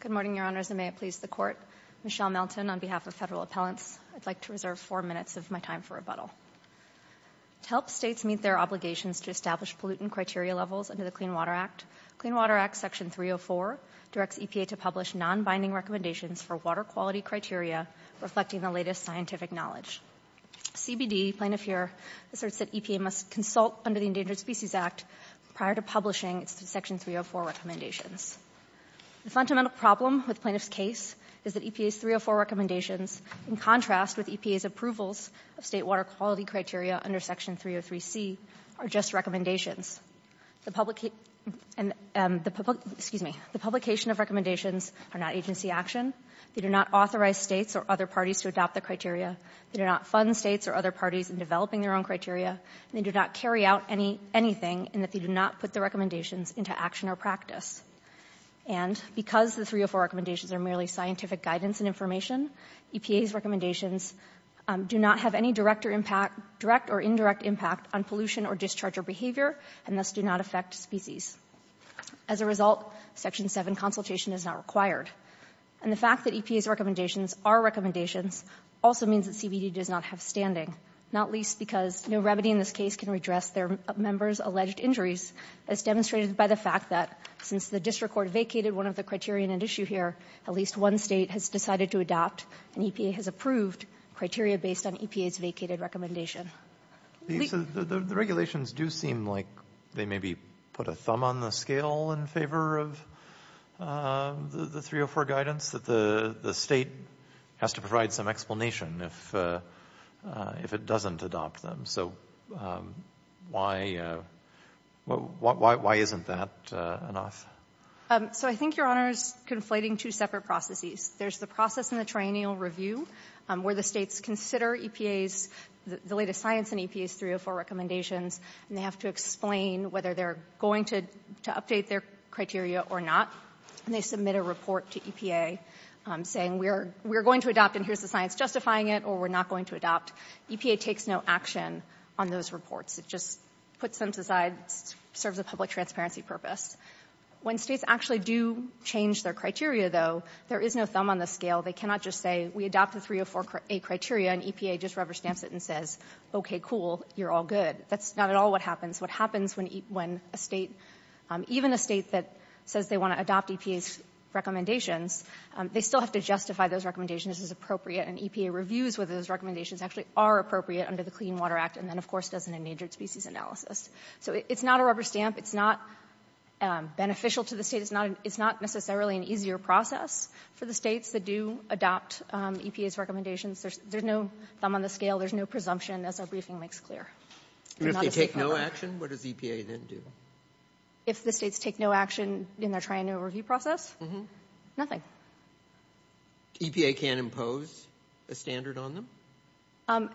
Good morning, Your Honors, and may it please the Court. Michelle Melton on behalf of Federal Appellants. I'd like to reserve four minutes of my time for rebuttal. To help states meet their obligations to establish pollutant criteria levels under the Clean Water Act, Clean Water Act Section 304 directs EPA to publish non-binding recommendations for water quality criteria reflecting the latest scientific knowledge. CBD, plaintiff here, asserts that EPA must consult under the Endangered Species Act prior to publishing its Section 304 recommendations. The fundamental problem with plaintiff's case is that EPA's 304 recommendations, in contrast with EPA's approvals of state water quality criteria under Section 303C, are just recommendations. The publication of recommendations are not agency action. They do not authorize states or other parties to adopt the criteria. They do not fund states or other parties in developing their own criteria. They do not carry out anything in that they do not put the recommendations into action or practice. And because the 304 recommendations are merely scientific guidance and information, EPA's recommendations do not have any direct or indirect impact on pollution or discharge or behavior, and thus do not affect species. As a result, Section 7 consultation is not required. And the fact that EPA's recommendations are recommendations also means that CBD does not have standing, not least because no remedy in this case can redress their members' alleged injuries, as demonstrated by the fact that since the district court vacated one of the criteria in issue here, at least one state has decided to adopt, and EPA has approved, criteria based on EPA's vacated recommendation. The regulations do seem like they maybe put a thumb on the scale in favor of the 304 guidance, that the state has to provide some explanation if it doesn't adopt them. So why isn't that enough? So I think, Your Honors, conflating two separate processes. There's the process in the triennial review where the states consider EPA's, the latest science in EPA's 304 recommendations, and they have to explain whether they're going to update their criteria or not. And they submit a report to EPA saying, we're going to adopt, and here's the science justifying it, or we're not going to adopt. EPA takes no action on those reports. It just puts them aside, serves a public transparency purpose. When states actually do change their criteria, though, there is no thumb on the scale. They cannot just say, we adopt the 304A criteria, and EPA just rubber stamps it and says, okay, cool, you're all good. That's not at all what happens. What happens when a state, even a state that says they want to adopt EPA's recommendations, they still have to justify those recommendations as appropriate, and EPA reviews whether those recommendations actually are appropriate under the Clean Water Act, and then, of course, does an endangered species analysis. So it's not a rubber stamp. It's not beneficial to the state. It's not necessarily an easier process for the states that do adopt EPA's recommendations. There's no thumb on the scale. There's no presumption, as our briefing makes clear. If they take no action, what does EPA then do? If the states take no action in their trial and review process, nothing. EPA can't impose a standard on them?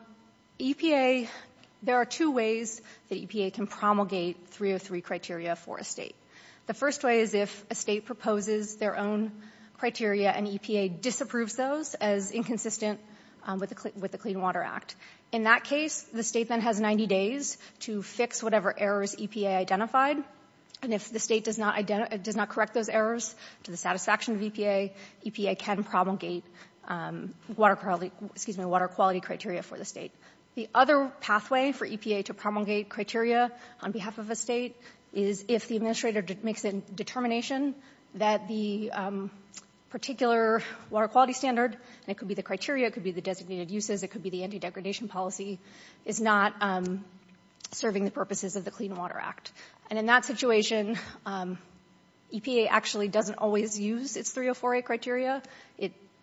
EPA, there are two ways that EPA can promulgate 303 criteria for a state. The first way is if a state proposes their own criteria, and EPA disapproves those as inconsistent with the Clean Water Act. In that case, the state then has 90 days to fix whatever errors EPA identified, and if the state does not correct those errors to the satisfaction of EPA, EPA can promulgate water quality criteria for the state. The other pathway for EPA to promulgate criteria on behalf of a state is if the administrator makes a determination that the particular water quality standard, and it could be the criteria, it could be the designated uses, it could be the anti-degradation policy, is not serving the purposes of the Clean Water Act. And in that situation, EPA actually doesn't always use its 304A criteria.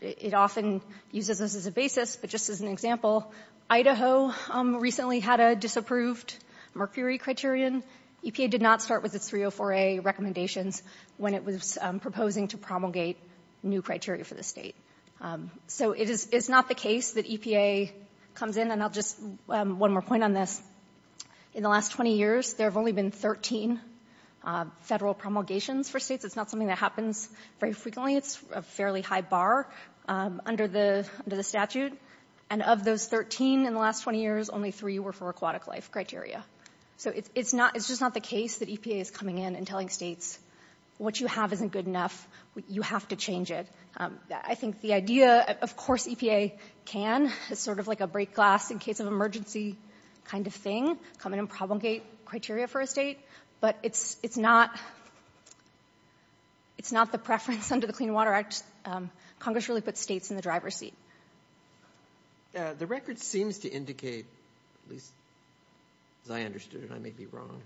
It often uses those as a basis, but just as an example, Idaho recently had a disapproved mercury criterion. EPA did not start with its 304A recommendations when it was proposing to promulgate new criteria for the state. So it is not the case that EPA comes in, and I'll just one more point on this. In the last 20 years, there have only been 13 federal promulgations for states. It's not something that happens very frequently. It's a fairly high bar under the statute. And of those 13 in the last 20 years, only three were for aquatic life criteria. So it's just not the case that EPA is coming in and telling states what you have isn't good enough, you have to change it. I think the idea, of course EPA can, is sort of like a break glass in case of emergency kind of thing, come in and promulgate criteria for a state, but it's not the preference under the Clean Water Act. Congress really puts states in the driver's seat. The record seems to indicate, at least as I understood it, I may be wrong,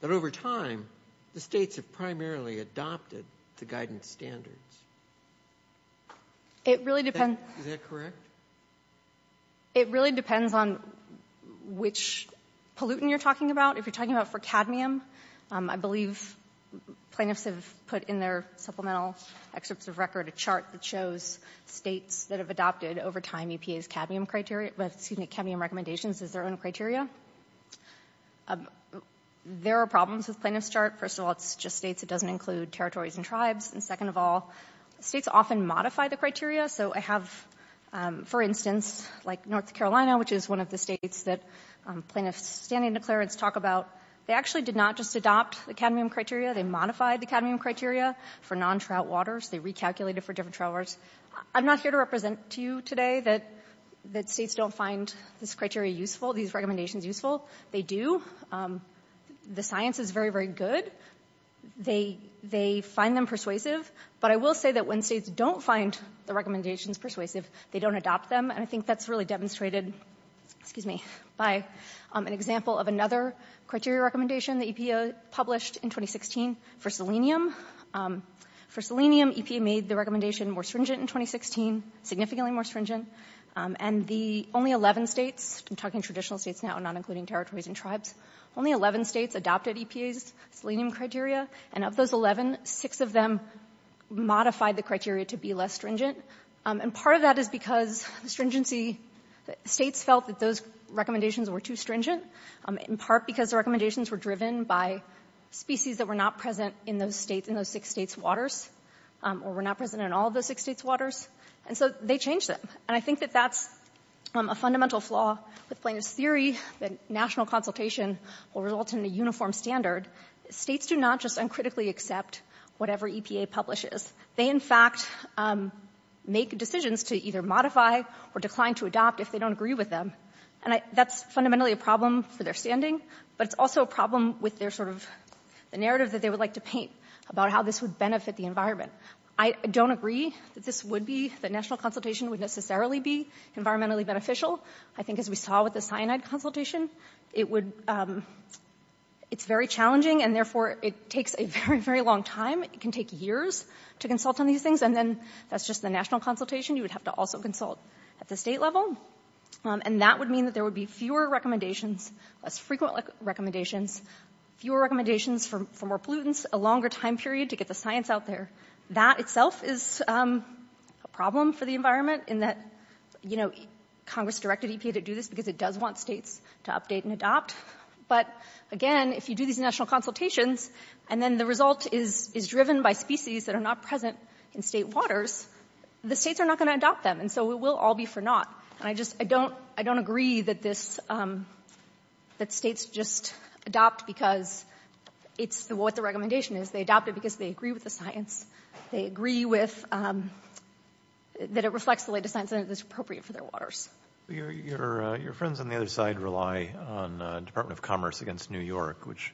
that over time the states have primarily adopted the guidance standards. Is that correct? It really depends on which pollutant you're talking about. If you're talking about for cadmium, I believe plaintiffs have put in their supplemental excerpts of record a chart that shows states that have adopted over time EPA's cadmium criteria, excuse me, cadmium recommendations as their own criteria. There are problems with plaintiff's chart. First of all, it's just states. It doesn't include territories and tribes. And second of all, states often modify the criteria. So I have, for instance, like North Carolina, which is one of the states that plaintiffs standing declarants talk about, they actually did not just adopt the cadmium criteria. They modified the cadmium criteria for non-trout waters. They recalculated for different trout waters. I'm not here to represent to you today that states don't find this criteria useful, these recommendations useful. They do. The science is very, very good. They find them persuasive. But I will say that when states don't find the recommendations persuasive, they don't adopt them. And I think that's really demonstrated, excuse me, by an example of another criteria recommendation that EPA published in 2016 for selenium. For selenium, EPA made the recommendation more stringent in 2016, significantly more stringent. And the only 11 states, I'm talking traditional states now, not including territories and tribes, only 11 states adopted EPA's selenium criteria. And of those 11, six of them modified the criteria to be less stringent. And part of that is because the stringency, states felt that those recommendations were too stringent, in part because the recommendations were driven by species that were not present in those states, in those six states' waters, or were not present in all of those six states' waters. And so they changed them. And I think that that's a fundamental flaw with plaintiff's theory, that national consultation will result in a uniform standard. States do not just uncritically accept whatever EPA publishes. They, in fact, make decisions to either modify or decline to adopt if they don't agree with them. And that's fundamentally a problem for their standing, but it's also a problem with their sort of, the narrative that they would like to paint about how this would benefit the environment. I don't agree that this would be, that national consultation would necessarily be environmentally beneficial. I think as we saw with the cyanide consultation, it would, it's very challenging, and therefore it takes a very, very long time. It can take years to consult on these things. And then that's just the national consultation. You would have to also consult at the state level. And that would mean that there would be fewer recommendations, less frequent recommendations, fewer recommendations for more pollutants, a longer time period to get the science out there. That itself is a problem for the environment in that, you know, Congress directed EPA to do this because it does want states to update and adopt. But, again, if you do these national consultations, and then the result is driven by species that are not present in state waters, the states are not going to adopt them. And so it will all be for naught. And I just, I don't, I don't agree that this, that states just adopt because it's what the recommendation is. They adopt it because they agree with the science. They agree with, that it reflects the latest science and that it's appropriate for their waters. Your friends on the other side rely on Department of Commerce against New York, which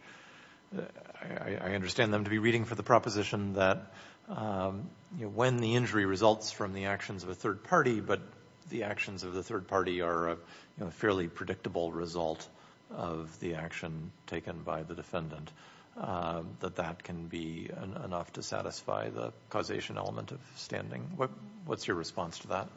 I understand them to be reading for the proposition that, you know, again, the injury results from the actions of a third party, but the actions of the third party are a fairly predictable result of the action taken by the defendant, that that can be enough to satisfy the causation element of standing. What's your response to that?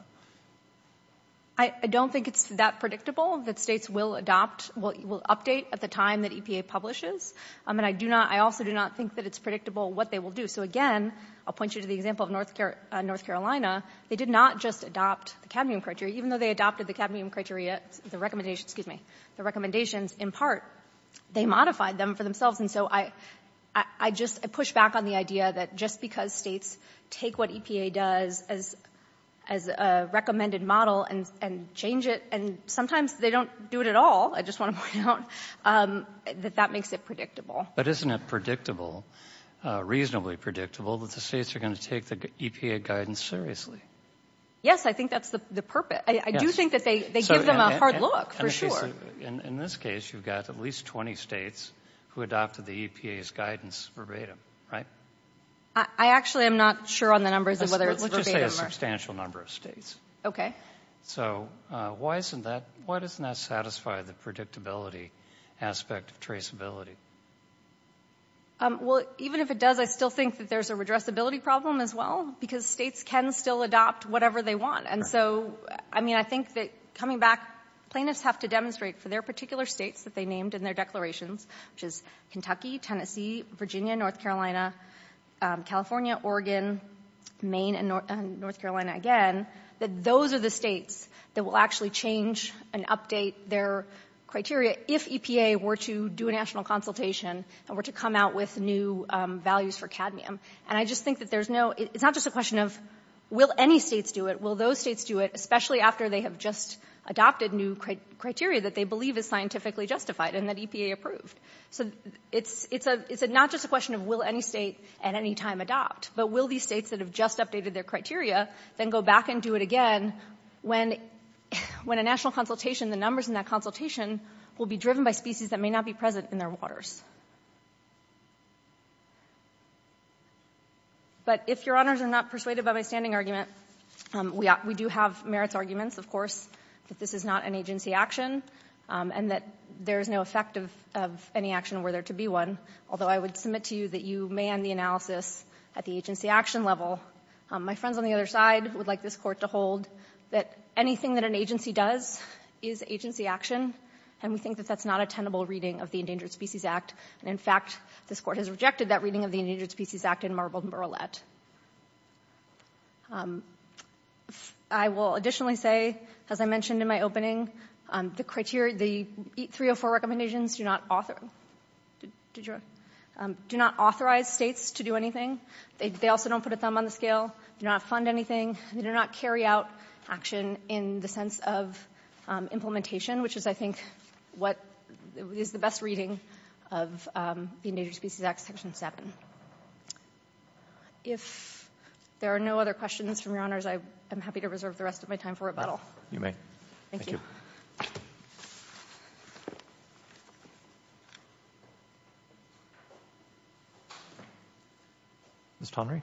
I don't think it's that predictable that states will adopt, will update at the time that EPA publishes. And I do not, I also do not think that it's predictable what they will do. So again, I'll point you to the example of North Carolina. They did not just adopt the cadmium criteria. Even though they adopted the cadmium criteria, the recommendation, excuse me, the recommendations, in part, they modified them for themselves. And so I, I just, I push back on the idea that just because states take what EPA does as, as a recommended model and, and change it, and sometimes they don't do it at all, I just want to point out, that that makes it predictable. But isn't it predictable, reasonably predictable, that the states are going to take the EPA guidance seriously? Yes, I think that's the purpose. I do think that they give them a hard look, for sure. In this case, you've got at least 20 states who adopted the EPA's guidance verbatim, right? I actually am not sure on the numbers of whether it's verbatim or not. Let's just say a substantial number of states. Okay. So, why isn't that, why doesn't that satisfy the predictability aspect of traceability? Well, even if it does, I still think that there's a redressability problem as well, because states can still adopt whatever they want. And so, I mean, I think that coming back, plaintiffs have to demonstrate for their particular states that they named in their declarations, which is Kentucky, Tennessee, Virginia, North Carolina, California, Oregon, Maine, and North Carolina again, that those are the states that will actually change and update their criteria if EPA were to do a national consultation and were to come out with new values for cadmium. And I just think that there's no, it's not just a question of, will any states do it? Will those states do it, especially after they have just adopted new criteria that they believe is scientifically justified and that EPA approved? So, it's not just a question of, will any state at any time adopt? But will these states that have just updated their criteria then go back and do it again when a national consultation, the numbers in that consultation, will be driven by species that may not be present in their waters? But if Your Honors are not persuaded by my standing argument, we do have merits arguments, of course, that this is not an agency action and that there is no effect of any action were there to be one, although I would submit to you that you may end the analysis at the agency action level. My friends on the other side would like this Court to hold that anything that an agency does is agency action, and we think that that's not a tenable reading of the Endangered Species Act. And, in fact, this Court has rejected that reading of the Endangered Species Act in Marble and Burlett. I will additionally say, as I mentioned in my opening, the 304 recommendations do not authorize states to do anything. They also don't put a thumb on the scale. They do not fund anything. They do not carry out action in the sense of implementation, which is, I think, what is the best reading of the Endangered Species Act, Section 7. If there are no other questions from Your Honors, I am happy to reserve the rest of my time for rebuttal. You may. Thank you. Ms. Tonry.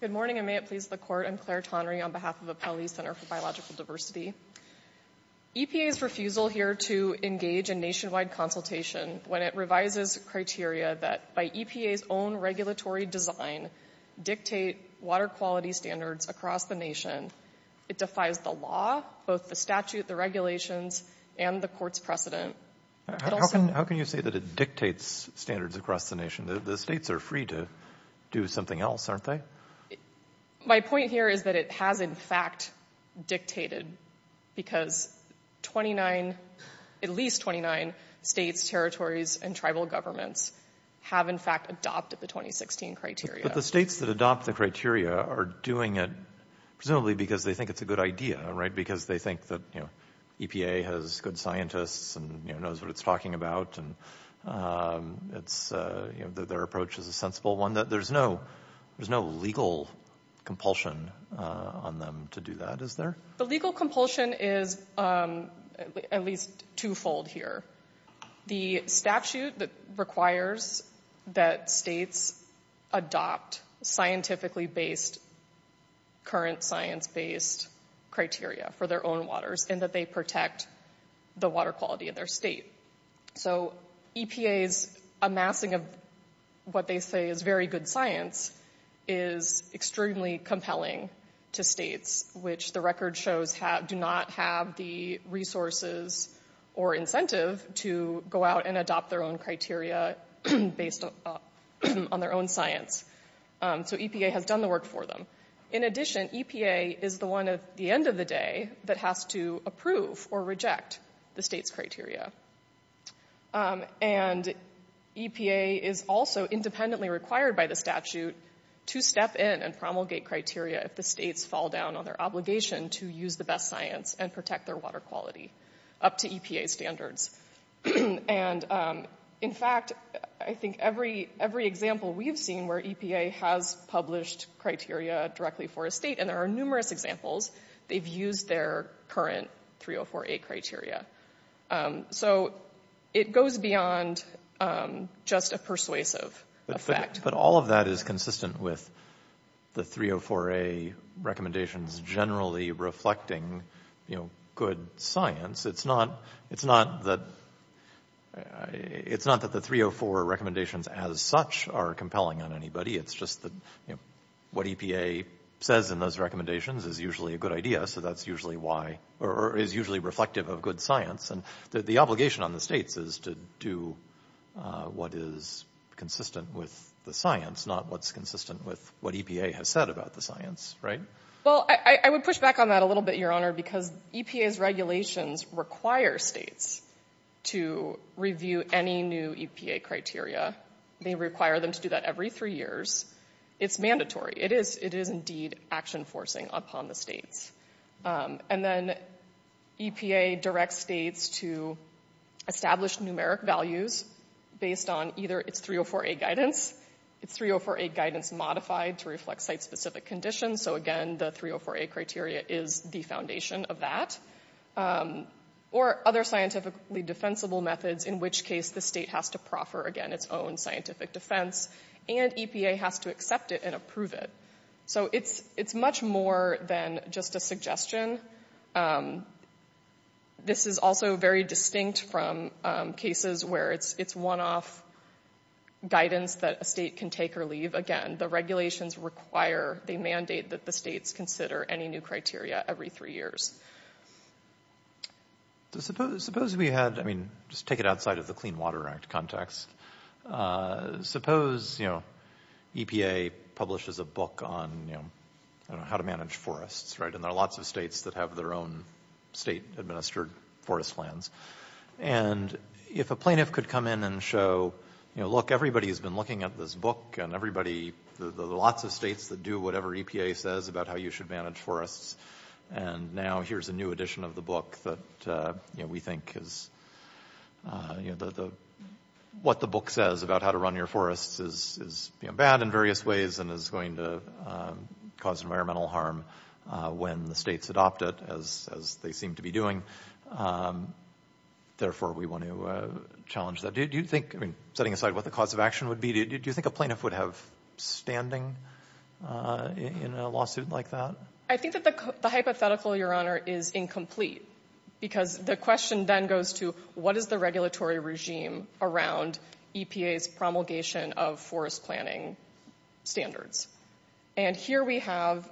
Good morning, and may it please the Court. I'm Claire Tonry on behalf of Appellee Center for Biological Diversity. EPA's refusal here to engage in nationwide consultation when it revises criteria that, by EPA's own regulatory design, dictate water quality standards across the nation, it defies the law, both the statute, the regulations, and the Court's precedent. How can you say that it dictates standards across the nation? The states are free to do something else, aren't they? My point here is that it has, in fact, dictated, because at least 29 states, territories, and tribal governments have, in fact, adopted the 2016 criteria. But the states that adopt the criteria are doing it presumably because they think it's a good idea, right? Because they think that EPA has good scientists and knows what it's talking about, and their approach is a sensible one. There's no legal compulsion on them to do that, is there? The legal compulsion is at least two-fold here. The statute requires that states adopt scientifically-based, current science-based criteria for their own waters, and that they protect the water quality of their state. So EPA's amassing of what they say is very good science is extremely compelling to states, which the record shows do not have the resources or incentive to go out and adopt their own criteria based on their own science. So EPA has done the work for them. In addition, EPA is the one at the end of the day that has to approve or reject the state's criteria. And EPA is also independently required by the statute to step in and promulgate criteria if the states fall down on their obligation to use the best science and protect their water quality up to EPA standards. And in fact, I think every example we've seen where EPA has published criteria directly for a state, and there are numerous examples, they've used their current 304A criteria. So it goes beyond just a persuasive effect. But all of that is consistent with the 304A recommendations generally reflecting good science. It's not that the 304 recommendations as such are compelling on anybody. It's just that what EPA says in those recommendations is usually a good idea, so that's usually why or is usually reflective of good science. And the obligation on the states is to do what is consistent with the science, not what's consistent with what EPA has said about the science, right? Well, I would push back on that a little bit, Your Honor, because EPA's regulations require states to review any new EPA criteria. They require them to do that every three years. It's mandatory. It is indeed action-forcing upon the states. And then EPA directs states to establish numeric values based on either its 304A guidance, its 304A guidance modified to reflect site-specific conditions. So, again, the 304A criteria is the foundation of that. Or other scientifically defensible methods, in which case the state has to proffer, again, its own scientific defense, and EPA has to accept it and approve it. So it's much more than just a suggestion. This is also very distinct from cases where it's one-off guidance that a state can take or leave. Again, the regulations require, they mandate that the states consider any new criteria every three years. Suppose we had, I mean, just take it outside of the Clean Water Act context. Suppose, you know, EPA publishes a book on, you know, how to manage forests, right? And there are lots of states that have their own state-administered forest lands. And if a plaintiff could come in and show, you know, look, everybody has been looking at this book and everybody, the lots of states that do whatever EPA says about how you should manage forests. And now here's a new edition of the book that, you know, we think is, you know, what the book says about how to run your forests is, you know, bad in various ways and is going to cause environmental harm when the states adopt it, as they seem to be doing. Therefore, we want to challenge that. Do you think, I mean, setting aside what the cause of action would be, do you think a plaintiff would have standing in a lawsuit like that? I think that the hypothetical, Your Honor, is incomplete because the question then goes to what is the regulatory regime around EPA's promulgation of forest planning standards? And here we have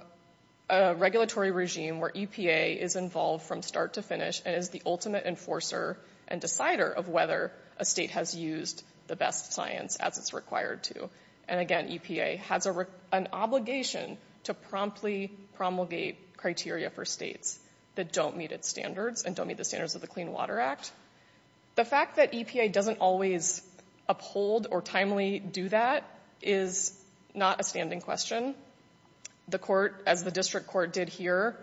a regulatory regime where EPA is involved from start to finish and is the ultimate enforcer and decider of whether a state has used the best science as it's required to. And again, EPA has an obligation to promptly promulgate criteria for states that don't meet its standards and don't meet the standards of the Clean Water Act. The fact that EPA doesn't always uphold or timely do that is not a standing question. The court, as the district court did here,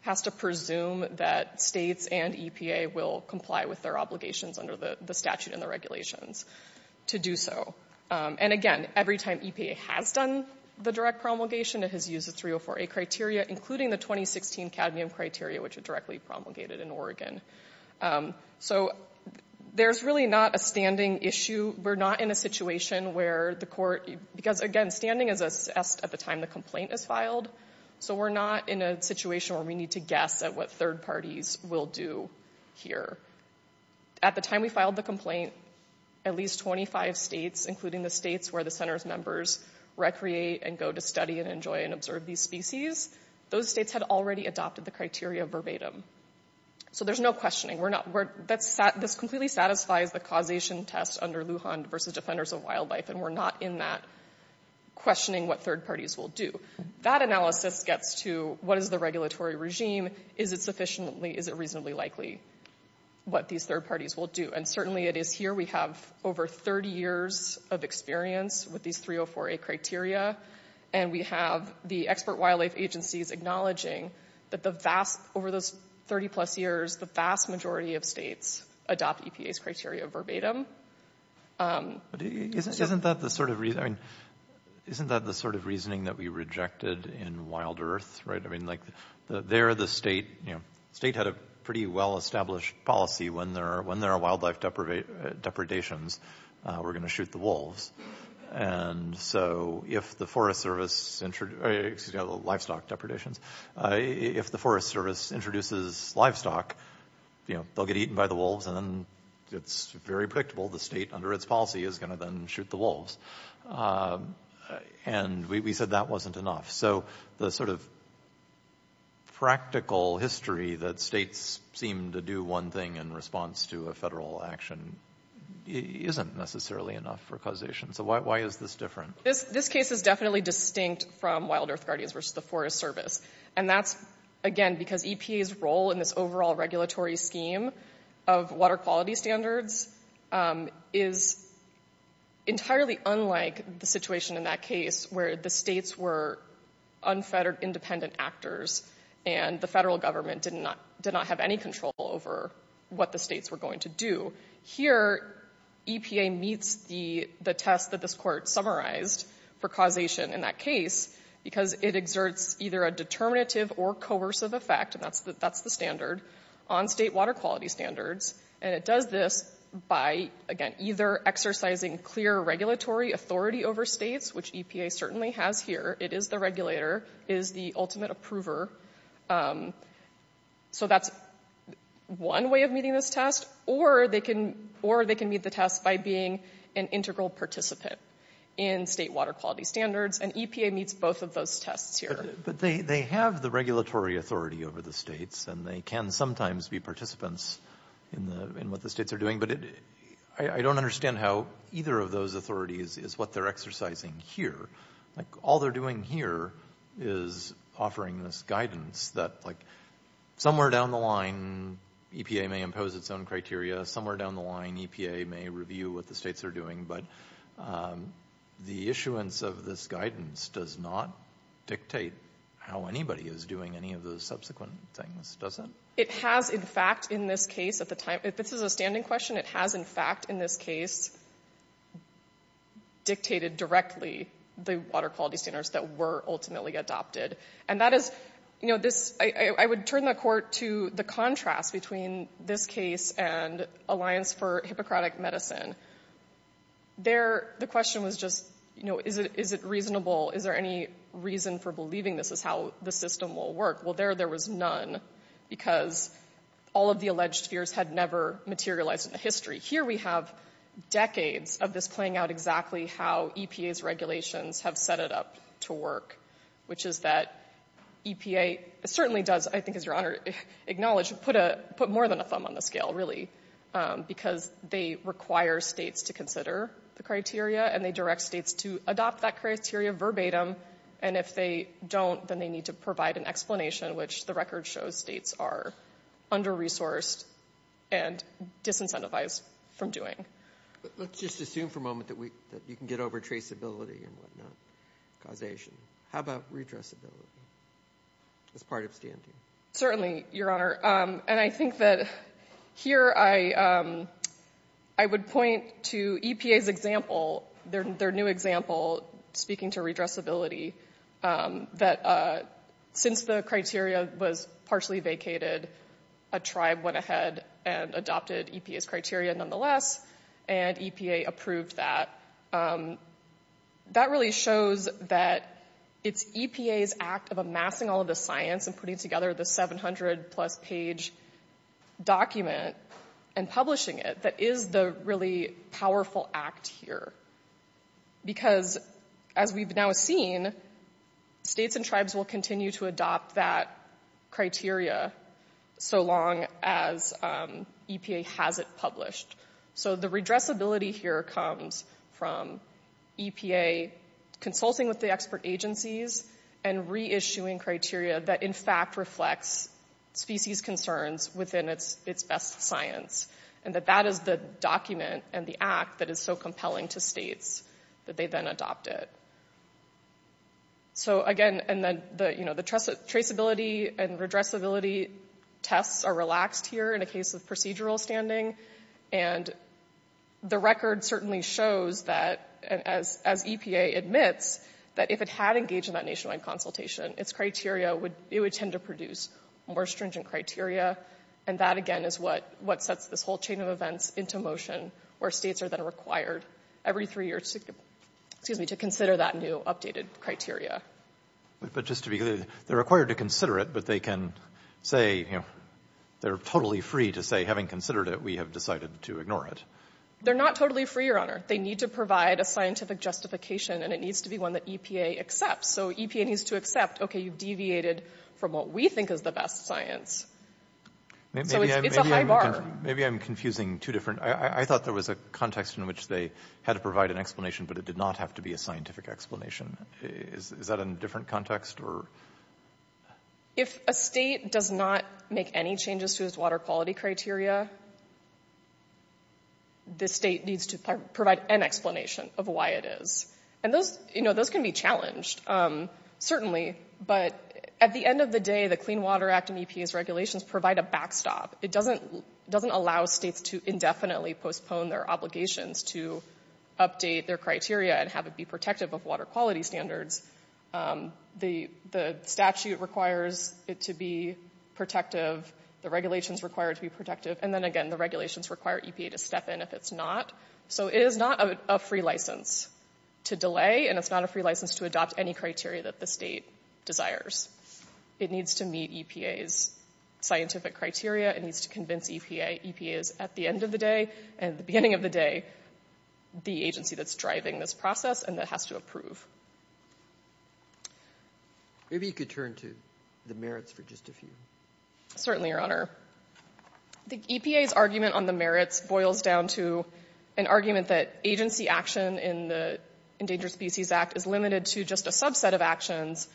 has to presume that states and EPA will comply with their obligations under the statute and the regulations to do so. And again, every time EPA has done the direct promulgation, it has used the 304A criteria, including the 2016 cadmium criteria, which are directly promulgated in Oregon. So there's really not a standing issue. We're not in a situation where the court, because again, standing is assessed at the time the complaint is filed, so we're not in a situation where we need to guess at what third parties will do here. At the time we filed the complaint, at least 25 states, including the states where the center's members recreate and go to study and enjoy and observe these species, those states had already adopted the criteria verbatim. So there's no questioning. This completely satisfies the causation test under Lujan versus Defenders of Wildlife, and we're not in that questioning what third parties will do. That analysis gets to what is the regulatory regime? Is it reasonably likely what these third parties will do? And certainly it is here. We have over 30 years of experience with these 304A criteria, and we have the expert wildlife agencies acknowledging that over those 30-plus years, the vast majority of states adopt EPA's criteria verbatim. Isn't that the sort of reasoning that we rejected in Wild Earth? I mean, there the state had a pretty well-established policy. When there are wildlife depredations, we're going to shoot the wolves. And so if the Forest Service introduces livestock, they'll get eaten by the wolves, and then it's very predictable the state under its policy is going to then shoot the wolves. And we said that wasn't enough. So the sort of practical history that states seem to do one thing in response to a federal action isn't necessarily enough for causation. So why is this different? This case is definitely distinct from Wild Earth Guardians versus the Forest Service. And that's, again, because EPA's role in this overall regulatory scheme of water quality standards is entirely unlike the situation in that case where the states were unfettered independent actors and the federal government did not have any control over what the states were going to do. Here, EPA meets the test that this court summarized for causation in that case because it exerts either a determinative or coercive effect, and that's the standard, on state water quality standards. And it does this by, again, either exercising clear regulatory authority over states, which EPA certainly has here. It is the regulator. It is the ultimate approver. So that's one way of meeting this test. Or they can meet the test by being an integral participant in state water quality standards. And EPA meets both of those tests here. But they have the regulatory authority over the states, and they can sometimes be participants in what the states are doing. But I don't understand how either of those authorities is what they're exercising here. Like, all they're doing here is offering this guidance that, like, somewhere down the line, EPA may impose its own criteria. Somewhere down the line, EPA may review what the states are doing. But the issuance of this guidance does not dictate how anybody is doing any of the subsequent things, does it? It has, in fact, in this case at the time. If this is a standing question, it has, in fact, in this case, dictated directly the water quality standards that were ultimately adopted. And that is, you know, this. I would turn the court to the contrast between this case and Alliance for Hippocratic Medicine. There, the question was just, you know, is it reasonable? Is there any reason for believing this is how the system will work? Well, there, there was none, because all of the alleged fears had never materialized in the history. Here we have decades of this playing out exactly how EPA's regulations have set it up to work, which is that EPA certainly does, I think, as Your Honor acknowledged, put more than a thumb on the scale, really, because they require states to consider the criteria, and they direct states to adopt that criteria verbatim. And if they don't, then they need to provide an explanation, which the record shows states are under-resourced and disincentivized from doing. Let's just assume for a moment that you can get over traceability and whatnot, causation. How about redressability as part of standing? Certainly, Your Honor. And I think that here I would point to EPA's example, their new example, speaking to redressability, that since the criteria was partially vacated, a tribe went ahead and adopted EPA's criteria nonetheless, and EPA approved that. That really shows that it's EPA's act of amassing all of the science and putting together this 700-plus page document and publishing it that is the really powerful act here, because as we've now seen, states and tribes will continue to adopt that criteria so long as EPA has it published. So the redressability here comes from EPA consulting with the expert agencies and reissuing criteria that, in fact, reflects species concerns within its best science, and that that is the document and the act that is so compelling to states that they then adopt it. So, again, the traceability and redressability tests are relaxed here in a case of procedural standing, and the record certainly shows that, as EPA admits, that if it had engaged in that nationwide consultation, its criteria would tend to produce more stringent criteria, and that, again, is what sets this whole chain of events into motion, where states are then required every three years to consider that new updated criteria. But just to be clear, they're required to consider it, but they can say, you know, they're totally free to say, having considered it, we have decided to ignore it. They're not totally free, Your Honor. They need to provide a scientific justification, and it needs to be one that EPA accepts. So EPA needs to accept, okay, you've deviated from what we think is the best science. So it's a high bar. Maybe I'm confusing two different – I thought there was a context in which they had to provide an explanation, but it did not have to be a scientific explanation. Is that a different context? If a state does not make any changes to its water quality criteria, the state needs to provide an explanation of why it is. And those can be challenged, certainly, but at the end of the day the Clean Water Act and EPA's regulations provide a backstop. It doesn't allow states to indefinitely postpone their obligations to update their criteria and have it be protective of water quality standards. The statute requires it to be protective. The regulations require it to be protective. And then, again, the regulations require EPA to step in if it's not. So it is not a free license to delay, and it's not a free license to adopt any criteria that the state desires. It needs to meet EPA's scientific criteria. It needs to convince EPA. EPA is, at the end of the day and the beginning of the day, the agency that's driving this process and that has to approve. Maybe you could turn to the merits for just a few. Certainly, Your Honor. The EPA's argument on the merits boils down to an argument that agency action in the Endangered Species Act is limited to just a subset of actions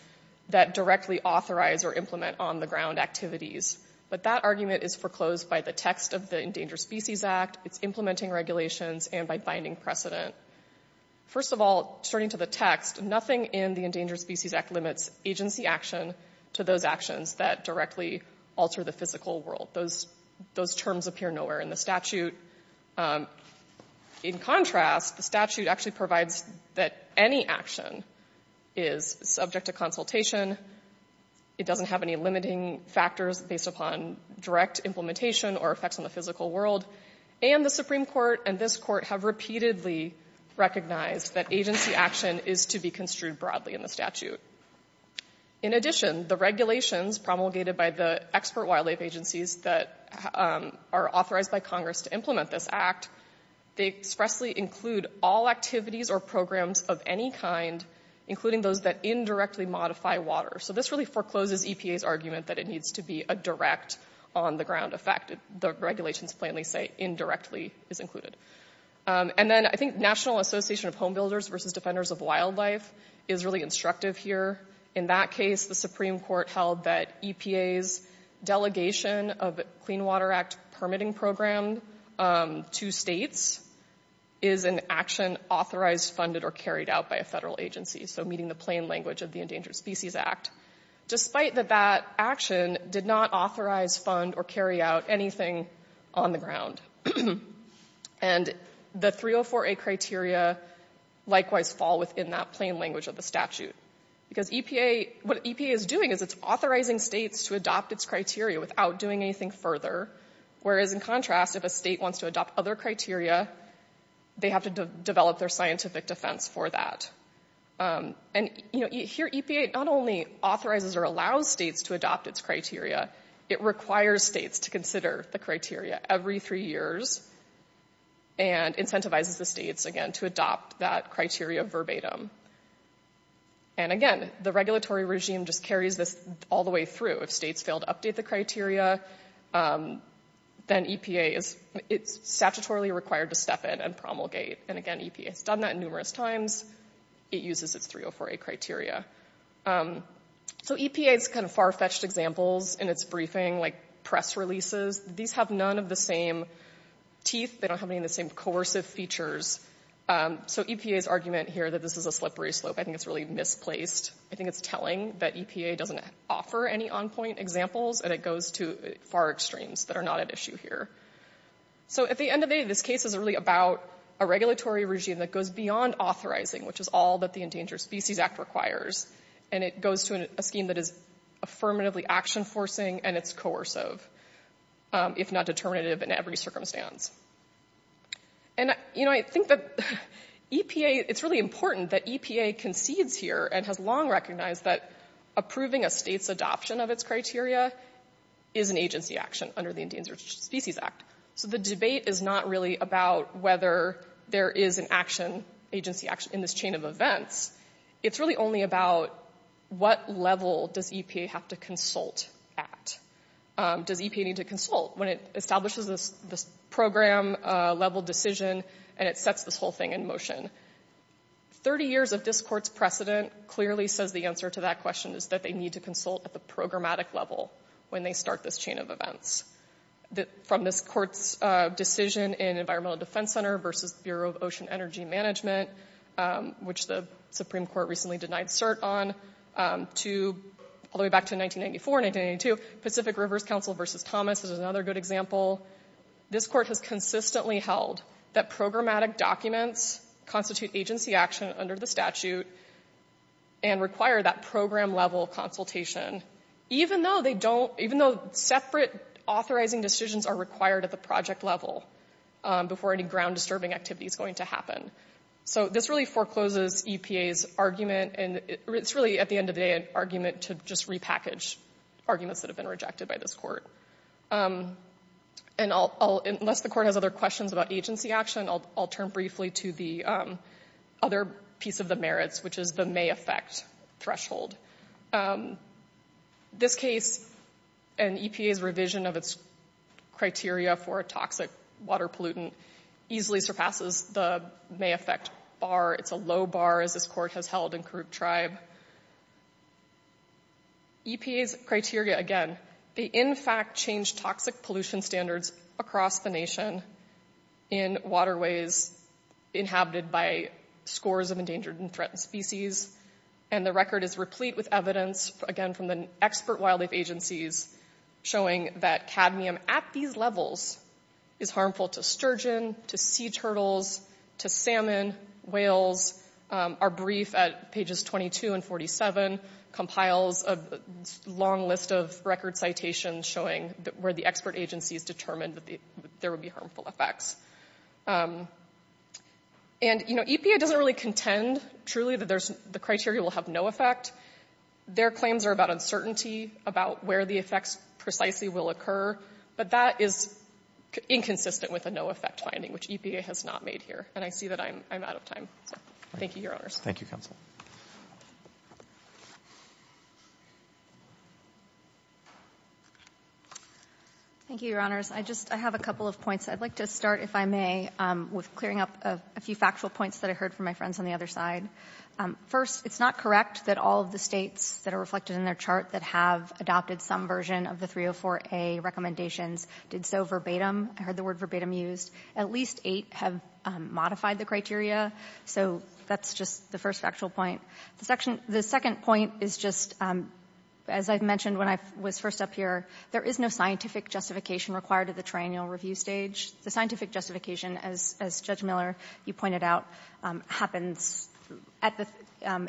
that directly authorize or implement on-the-ground activities. But that argument is foreclosed by the text of the Endangered Species Act. It's implementing regulations and by binding precedent. First of all, starting to the text, nothing in the Endangered Species Act limits agency action to those actions that directly alter the physical world. Those terms appear nowhere in the statute. In contrast, the statute actually provides that any action is subject to consultation. It doesn't have any limiting factors based upon direct implementation or effects on the physical world. And the Supreme Court and this Court have repeatedly recognized that agency action is to be construed broadly in the statute. In addition, the regulations promulgated by the expert wildlife agencies that are authorized by Congress to implement this act, they expressly include all activities or programs of any kind, including those that indirectly modify water. So this really forecloses EPA's argument that it needs to be a direct on-the-ground effect. The regulations plainly say indirectly is included. And then I think National Association of Home Builders versus Defenders of Wildlife is really instructive here. In that case, the Supreme Court held that EPA's delegation of the Clean Water Act permitting program to states is an action authorized, funded, or carried out by a federal agency. So meeting the plain language of the Endangered Species Act. Despite that that action did not authorize, fund, or carry out anything on the ground. And the 304A criteria likewise fall within that plain language of the statute. Because what EPA is doing is it's authorizing states to adopt its criteria without doing anything further. Whereas in contrast, if a state wants to adopt other criteria, they have to develop their scientific defense for that. And here EPA not only authorizes or allows states to adopt its criteria, it requires states to consider the criteria every three years and incentivizes the states, again, to adopt that criteria verbatim. And again, the regulatory regime just carries this all the way through. If states fail to update the criteria, then EPA is statutorily required to step in and promulgate. And again, EPA has done that numerous times. It uses its 304A criteria. So EPA's kind of far-fetched examples in its briefing, like press releases, these have none of the same teeth. They don't have any of the same coercive features. So EPA's argument here that this is a slippery slope, I think it's really misplaced. I think it's telling that EPA doesn't offer any on-point examples and it goes to far extremes that are not at issue here. So at the end of the day, this case is really about a regulatory regime that goes beyond authorizing, which is all that the Endangered Species Act requires, and it goes to a scheme that is affirmatively action-forcing and it's coercive, if not determinative in every circumstance. And I think that it's really important that EPA concedes here and has long recognized that approving a state's adoption of its criteria is an agency action under the Endangered Species Act. So the debate is not really about whether there is an agency action in this chain of events. It's really only about what level does EPA have to consult at. Does EPA need to consult when it establishes this program-level decision and it sets this whole thing in motion? 30 years of this court's precedent clearly says the answer to that question is that they need to consult at the programmatic level when they start this chain of events. From this court's decision in Environmental Defense Center versus Bureau of Ocean Energy Management, which the Supreme Court recently denied cert on, all the way back to 1994 and 1992, Pacific Rivers Council versus Thomas is another good example. This court has consistently held that programmatic documents constitute agency action under the statute and require that program-level consultation, even though separate authorizing decisions are required at the project level before any ground-disturbing activity is going to happen. So this really forecloses EPA's argument and it's really, at the end of the day, an argument to just repackage arguments that have been rejected by this court. And unless the court has other questions about agency action, I'll turn briefly to the other piece of the merits, which is the may affect threshold. This case and EPA's revision of its criteria for a toxic water pollutant easily surpasses the may affect bar. It's a low bar, as this court has held in Kuruk Tribe. EPA's criteria, again, they in fact change toxic pollution standards across the nation in waterways inhabited by scores of endangered and threatened species. And the record is replete with evidence, again, from the expert wildlife agencies, showing that cadmium at these levels is harmful to sturgeon, to sea turtles, to salmon, whales. Our brief at pages 22 and 47 compiles a long list of record citations showing where the expert agencies determined that there would be harmful effects. And, you know, EPA doesn't really contend, truly, that the criteria will have no effect. Their claims are about uncertainty, about where the effects precisely will occur. But that is inconsistent with a no effect finding, which EPA has not made here. And I see that I'm out of time. Thank you, Your Honors. Thank you, Counsel. Thank you, Your Honors. I just have a couple of points. I'd like to start, if I may, with clearing up a few factual points that I heard from my friends on the other side. First, it's not correct that all of the states that are reflected in their chart that have adopted some version of the 304A recommendations did so verbatim. I heard the word verbatim used. At least eight have modified the criteria. So that's just the first factual point. The second point is just, as I mentioned when I was first up here, there is no scientific justification required at the triennial review stage. The scientific justification, as Judge Miller, you pointed out, happens at the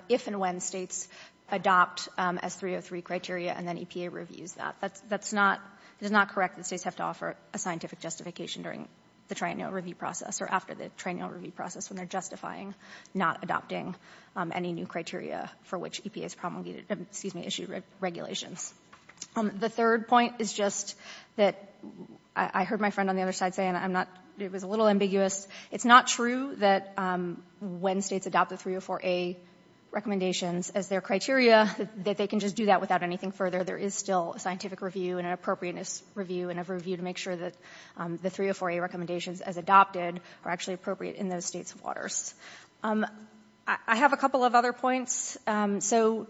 — if and when states adopt S303 criteria and then EPA reviews that. That's not — it is not correct that states have to offer a scientific justification during the triennial review process or after the triennial review process when they're justifying not adopting any new criteria for which EPA has promulgated — excuse me, issued regulations. The third point is just that I heard my friend on the other side saying I'm not — it was a little ambiguous. It's not true that when states adopt the 304A recommendations as their criteria, that they can just do that without anything further. There is still a scientific review and an appropriateness review and a review to make sure that the 304A recommendations, as adopted, are actually appropriate in those states' waters. I have a couple of other points. So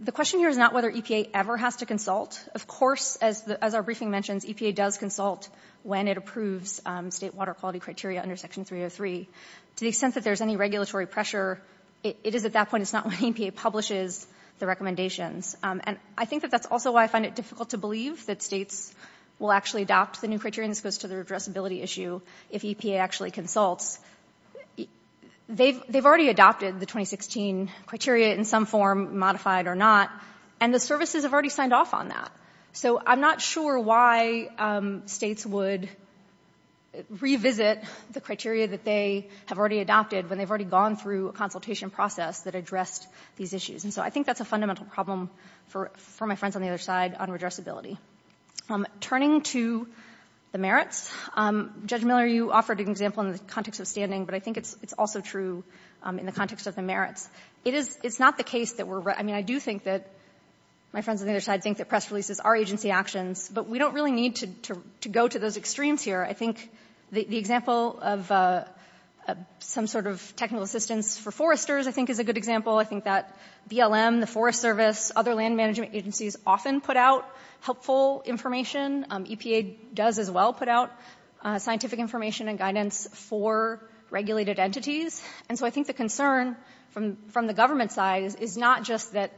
the question here is not whether EPA ever has to consult. Of course, as our briefing mentions, EPA does consult when it approves state water quality criteria under Section 303. To the extent that there's any regulatory pressure, it is at that point. It's not when EPA publishes the recommendations. And I think that that's also why I find it difficult to believe that states will actually adopt the new criteria, and this goes to their addressability issue, if EPA actually consults. They've already adopted the 2016 criteria in some form, modified or not, and the services have already signed off on that. So I'm not sure why states would revisit the criteria that they have already adopted when they've already gone through a consultation process that addressed these issues. And so I think that's a fundamental problem for my friends on the other side on addressability. Turning to the merits, Judge Miller, you offered an example in the context of standing, but I think it's also true in the context of the merits. It's not the case that we're — I mean, I do think that — my friends on the other side think that press releases are agency actions, but we don't really need to go to those extremes here. I think the example of some sort of technical assistance for foresters, I think, is a good example. I think that BLM, the Forest Service, other land management agencies often put out helpful information. EPA does as well put out scientific information and guidance for regulated entities. And so I think the concern from the government side is not just that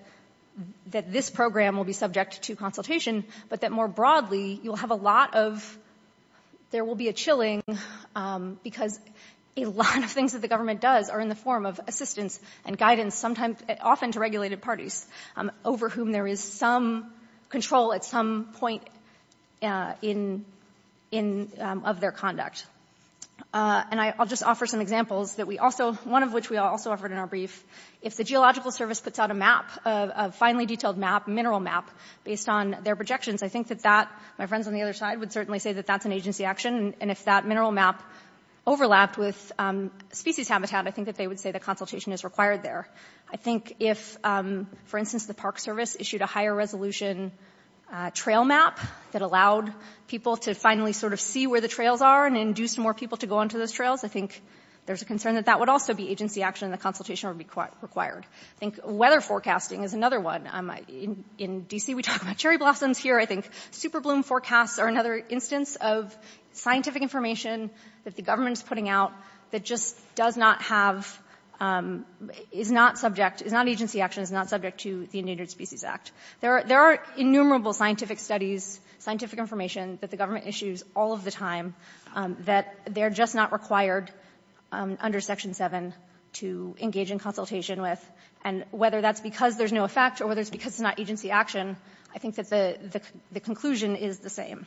this program will be subject to consultation, but that more broadly you'll have a lot of — there will be a chilling, because a lot of things that the government does are in the form of assistance and guidance, often to regulated parties over whom there is some control at some point of their conduct. And I'll just offer some examples that we also — one of which we also offered in our brief. If the Geological Service puts out a map, a finely detailed map, a mineral map, based on their projections, I think that that — my friends on the other side would certainly say that that's an agency action. And if that mineral map overlapped with species habitat, I think that they would say that consultation is required there. I think if, for instance, the Park Service issued a higher-resolution trail map that allowed people to finally sort of see where the trails are and induced more people to go onto those trails, I think there's a concern that that would also be agency action and the consultation would be required. I think weather forecasting is another one. In D.C. we talk about cherry blossoms. Here I think super bloom forecasts are another instance of scientific information that the government is putting out that just does not have — is not subject — is not agency action, is not subject to the Endangered Species Act. There are innumerable scientific studies, scientific information that the government issues all of the time that they're just not required under Section 7 to engage in consultation with. And whether that's because there's no effect or whether it's because it's not agency action, I think that the conclusion is the same.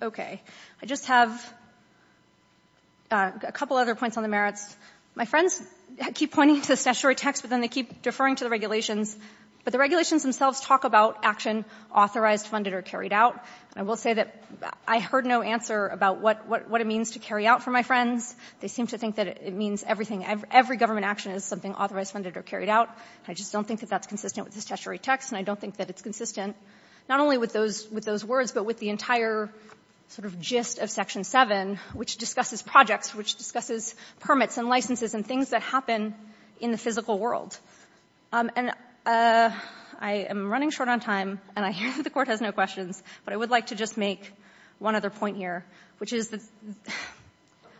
Okay. I just have a couple other points on the merits. My friends keep pointing to the statutory text, but then they keep deferring to the regulations. But the regulations themselves talk about action authorized, funded, or carried out. And I will say that I heard no answer about what it means to carry out for my friends. They seem to think that it means everything. Every government action is something authorized, funded, or carried out. I just don't think that that's consistent with the statutory text, and I don't think that it's consistent not only with those — with those words, but with the entire sort of gist of Section 7, which discusses projects, which discusses permits and licenses and things that happen in the physical world. And I am running short on time, and I hear that the Court has no questions, but I would like to just make one other point here, which is that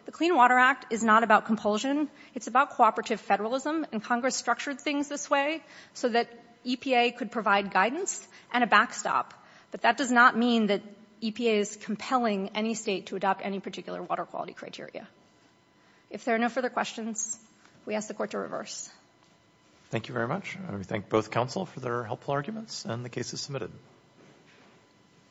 the Clean Water Act is not about compulsion. It's about cooperative federalism, and Congress structured things this way so that EPA could provide guidance and a backstop. But that does not mean that EPA is compelling any state to adopt any particular water quality criteria. If there are no further questions, we ask the Court to reverse. Thank you very much. And we thank both counsel for their helpful arguments, and the case is submitted.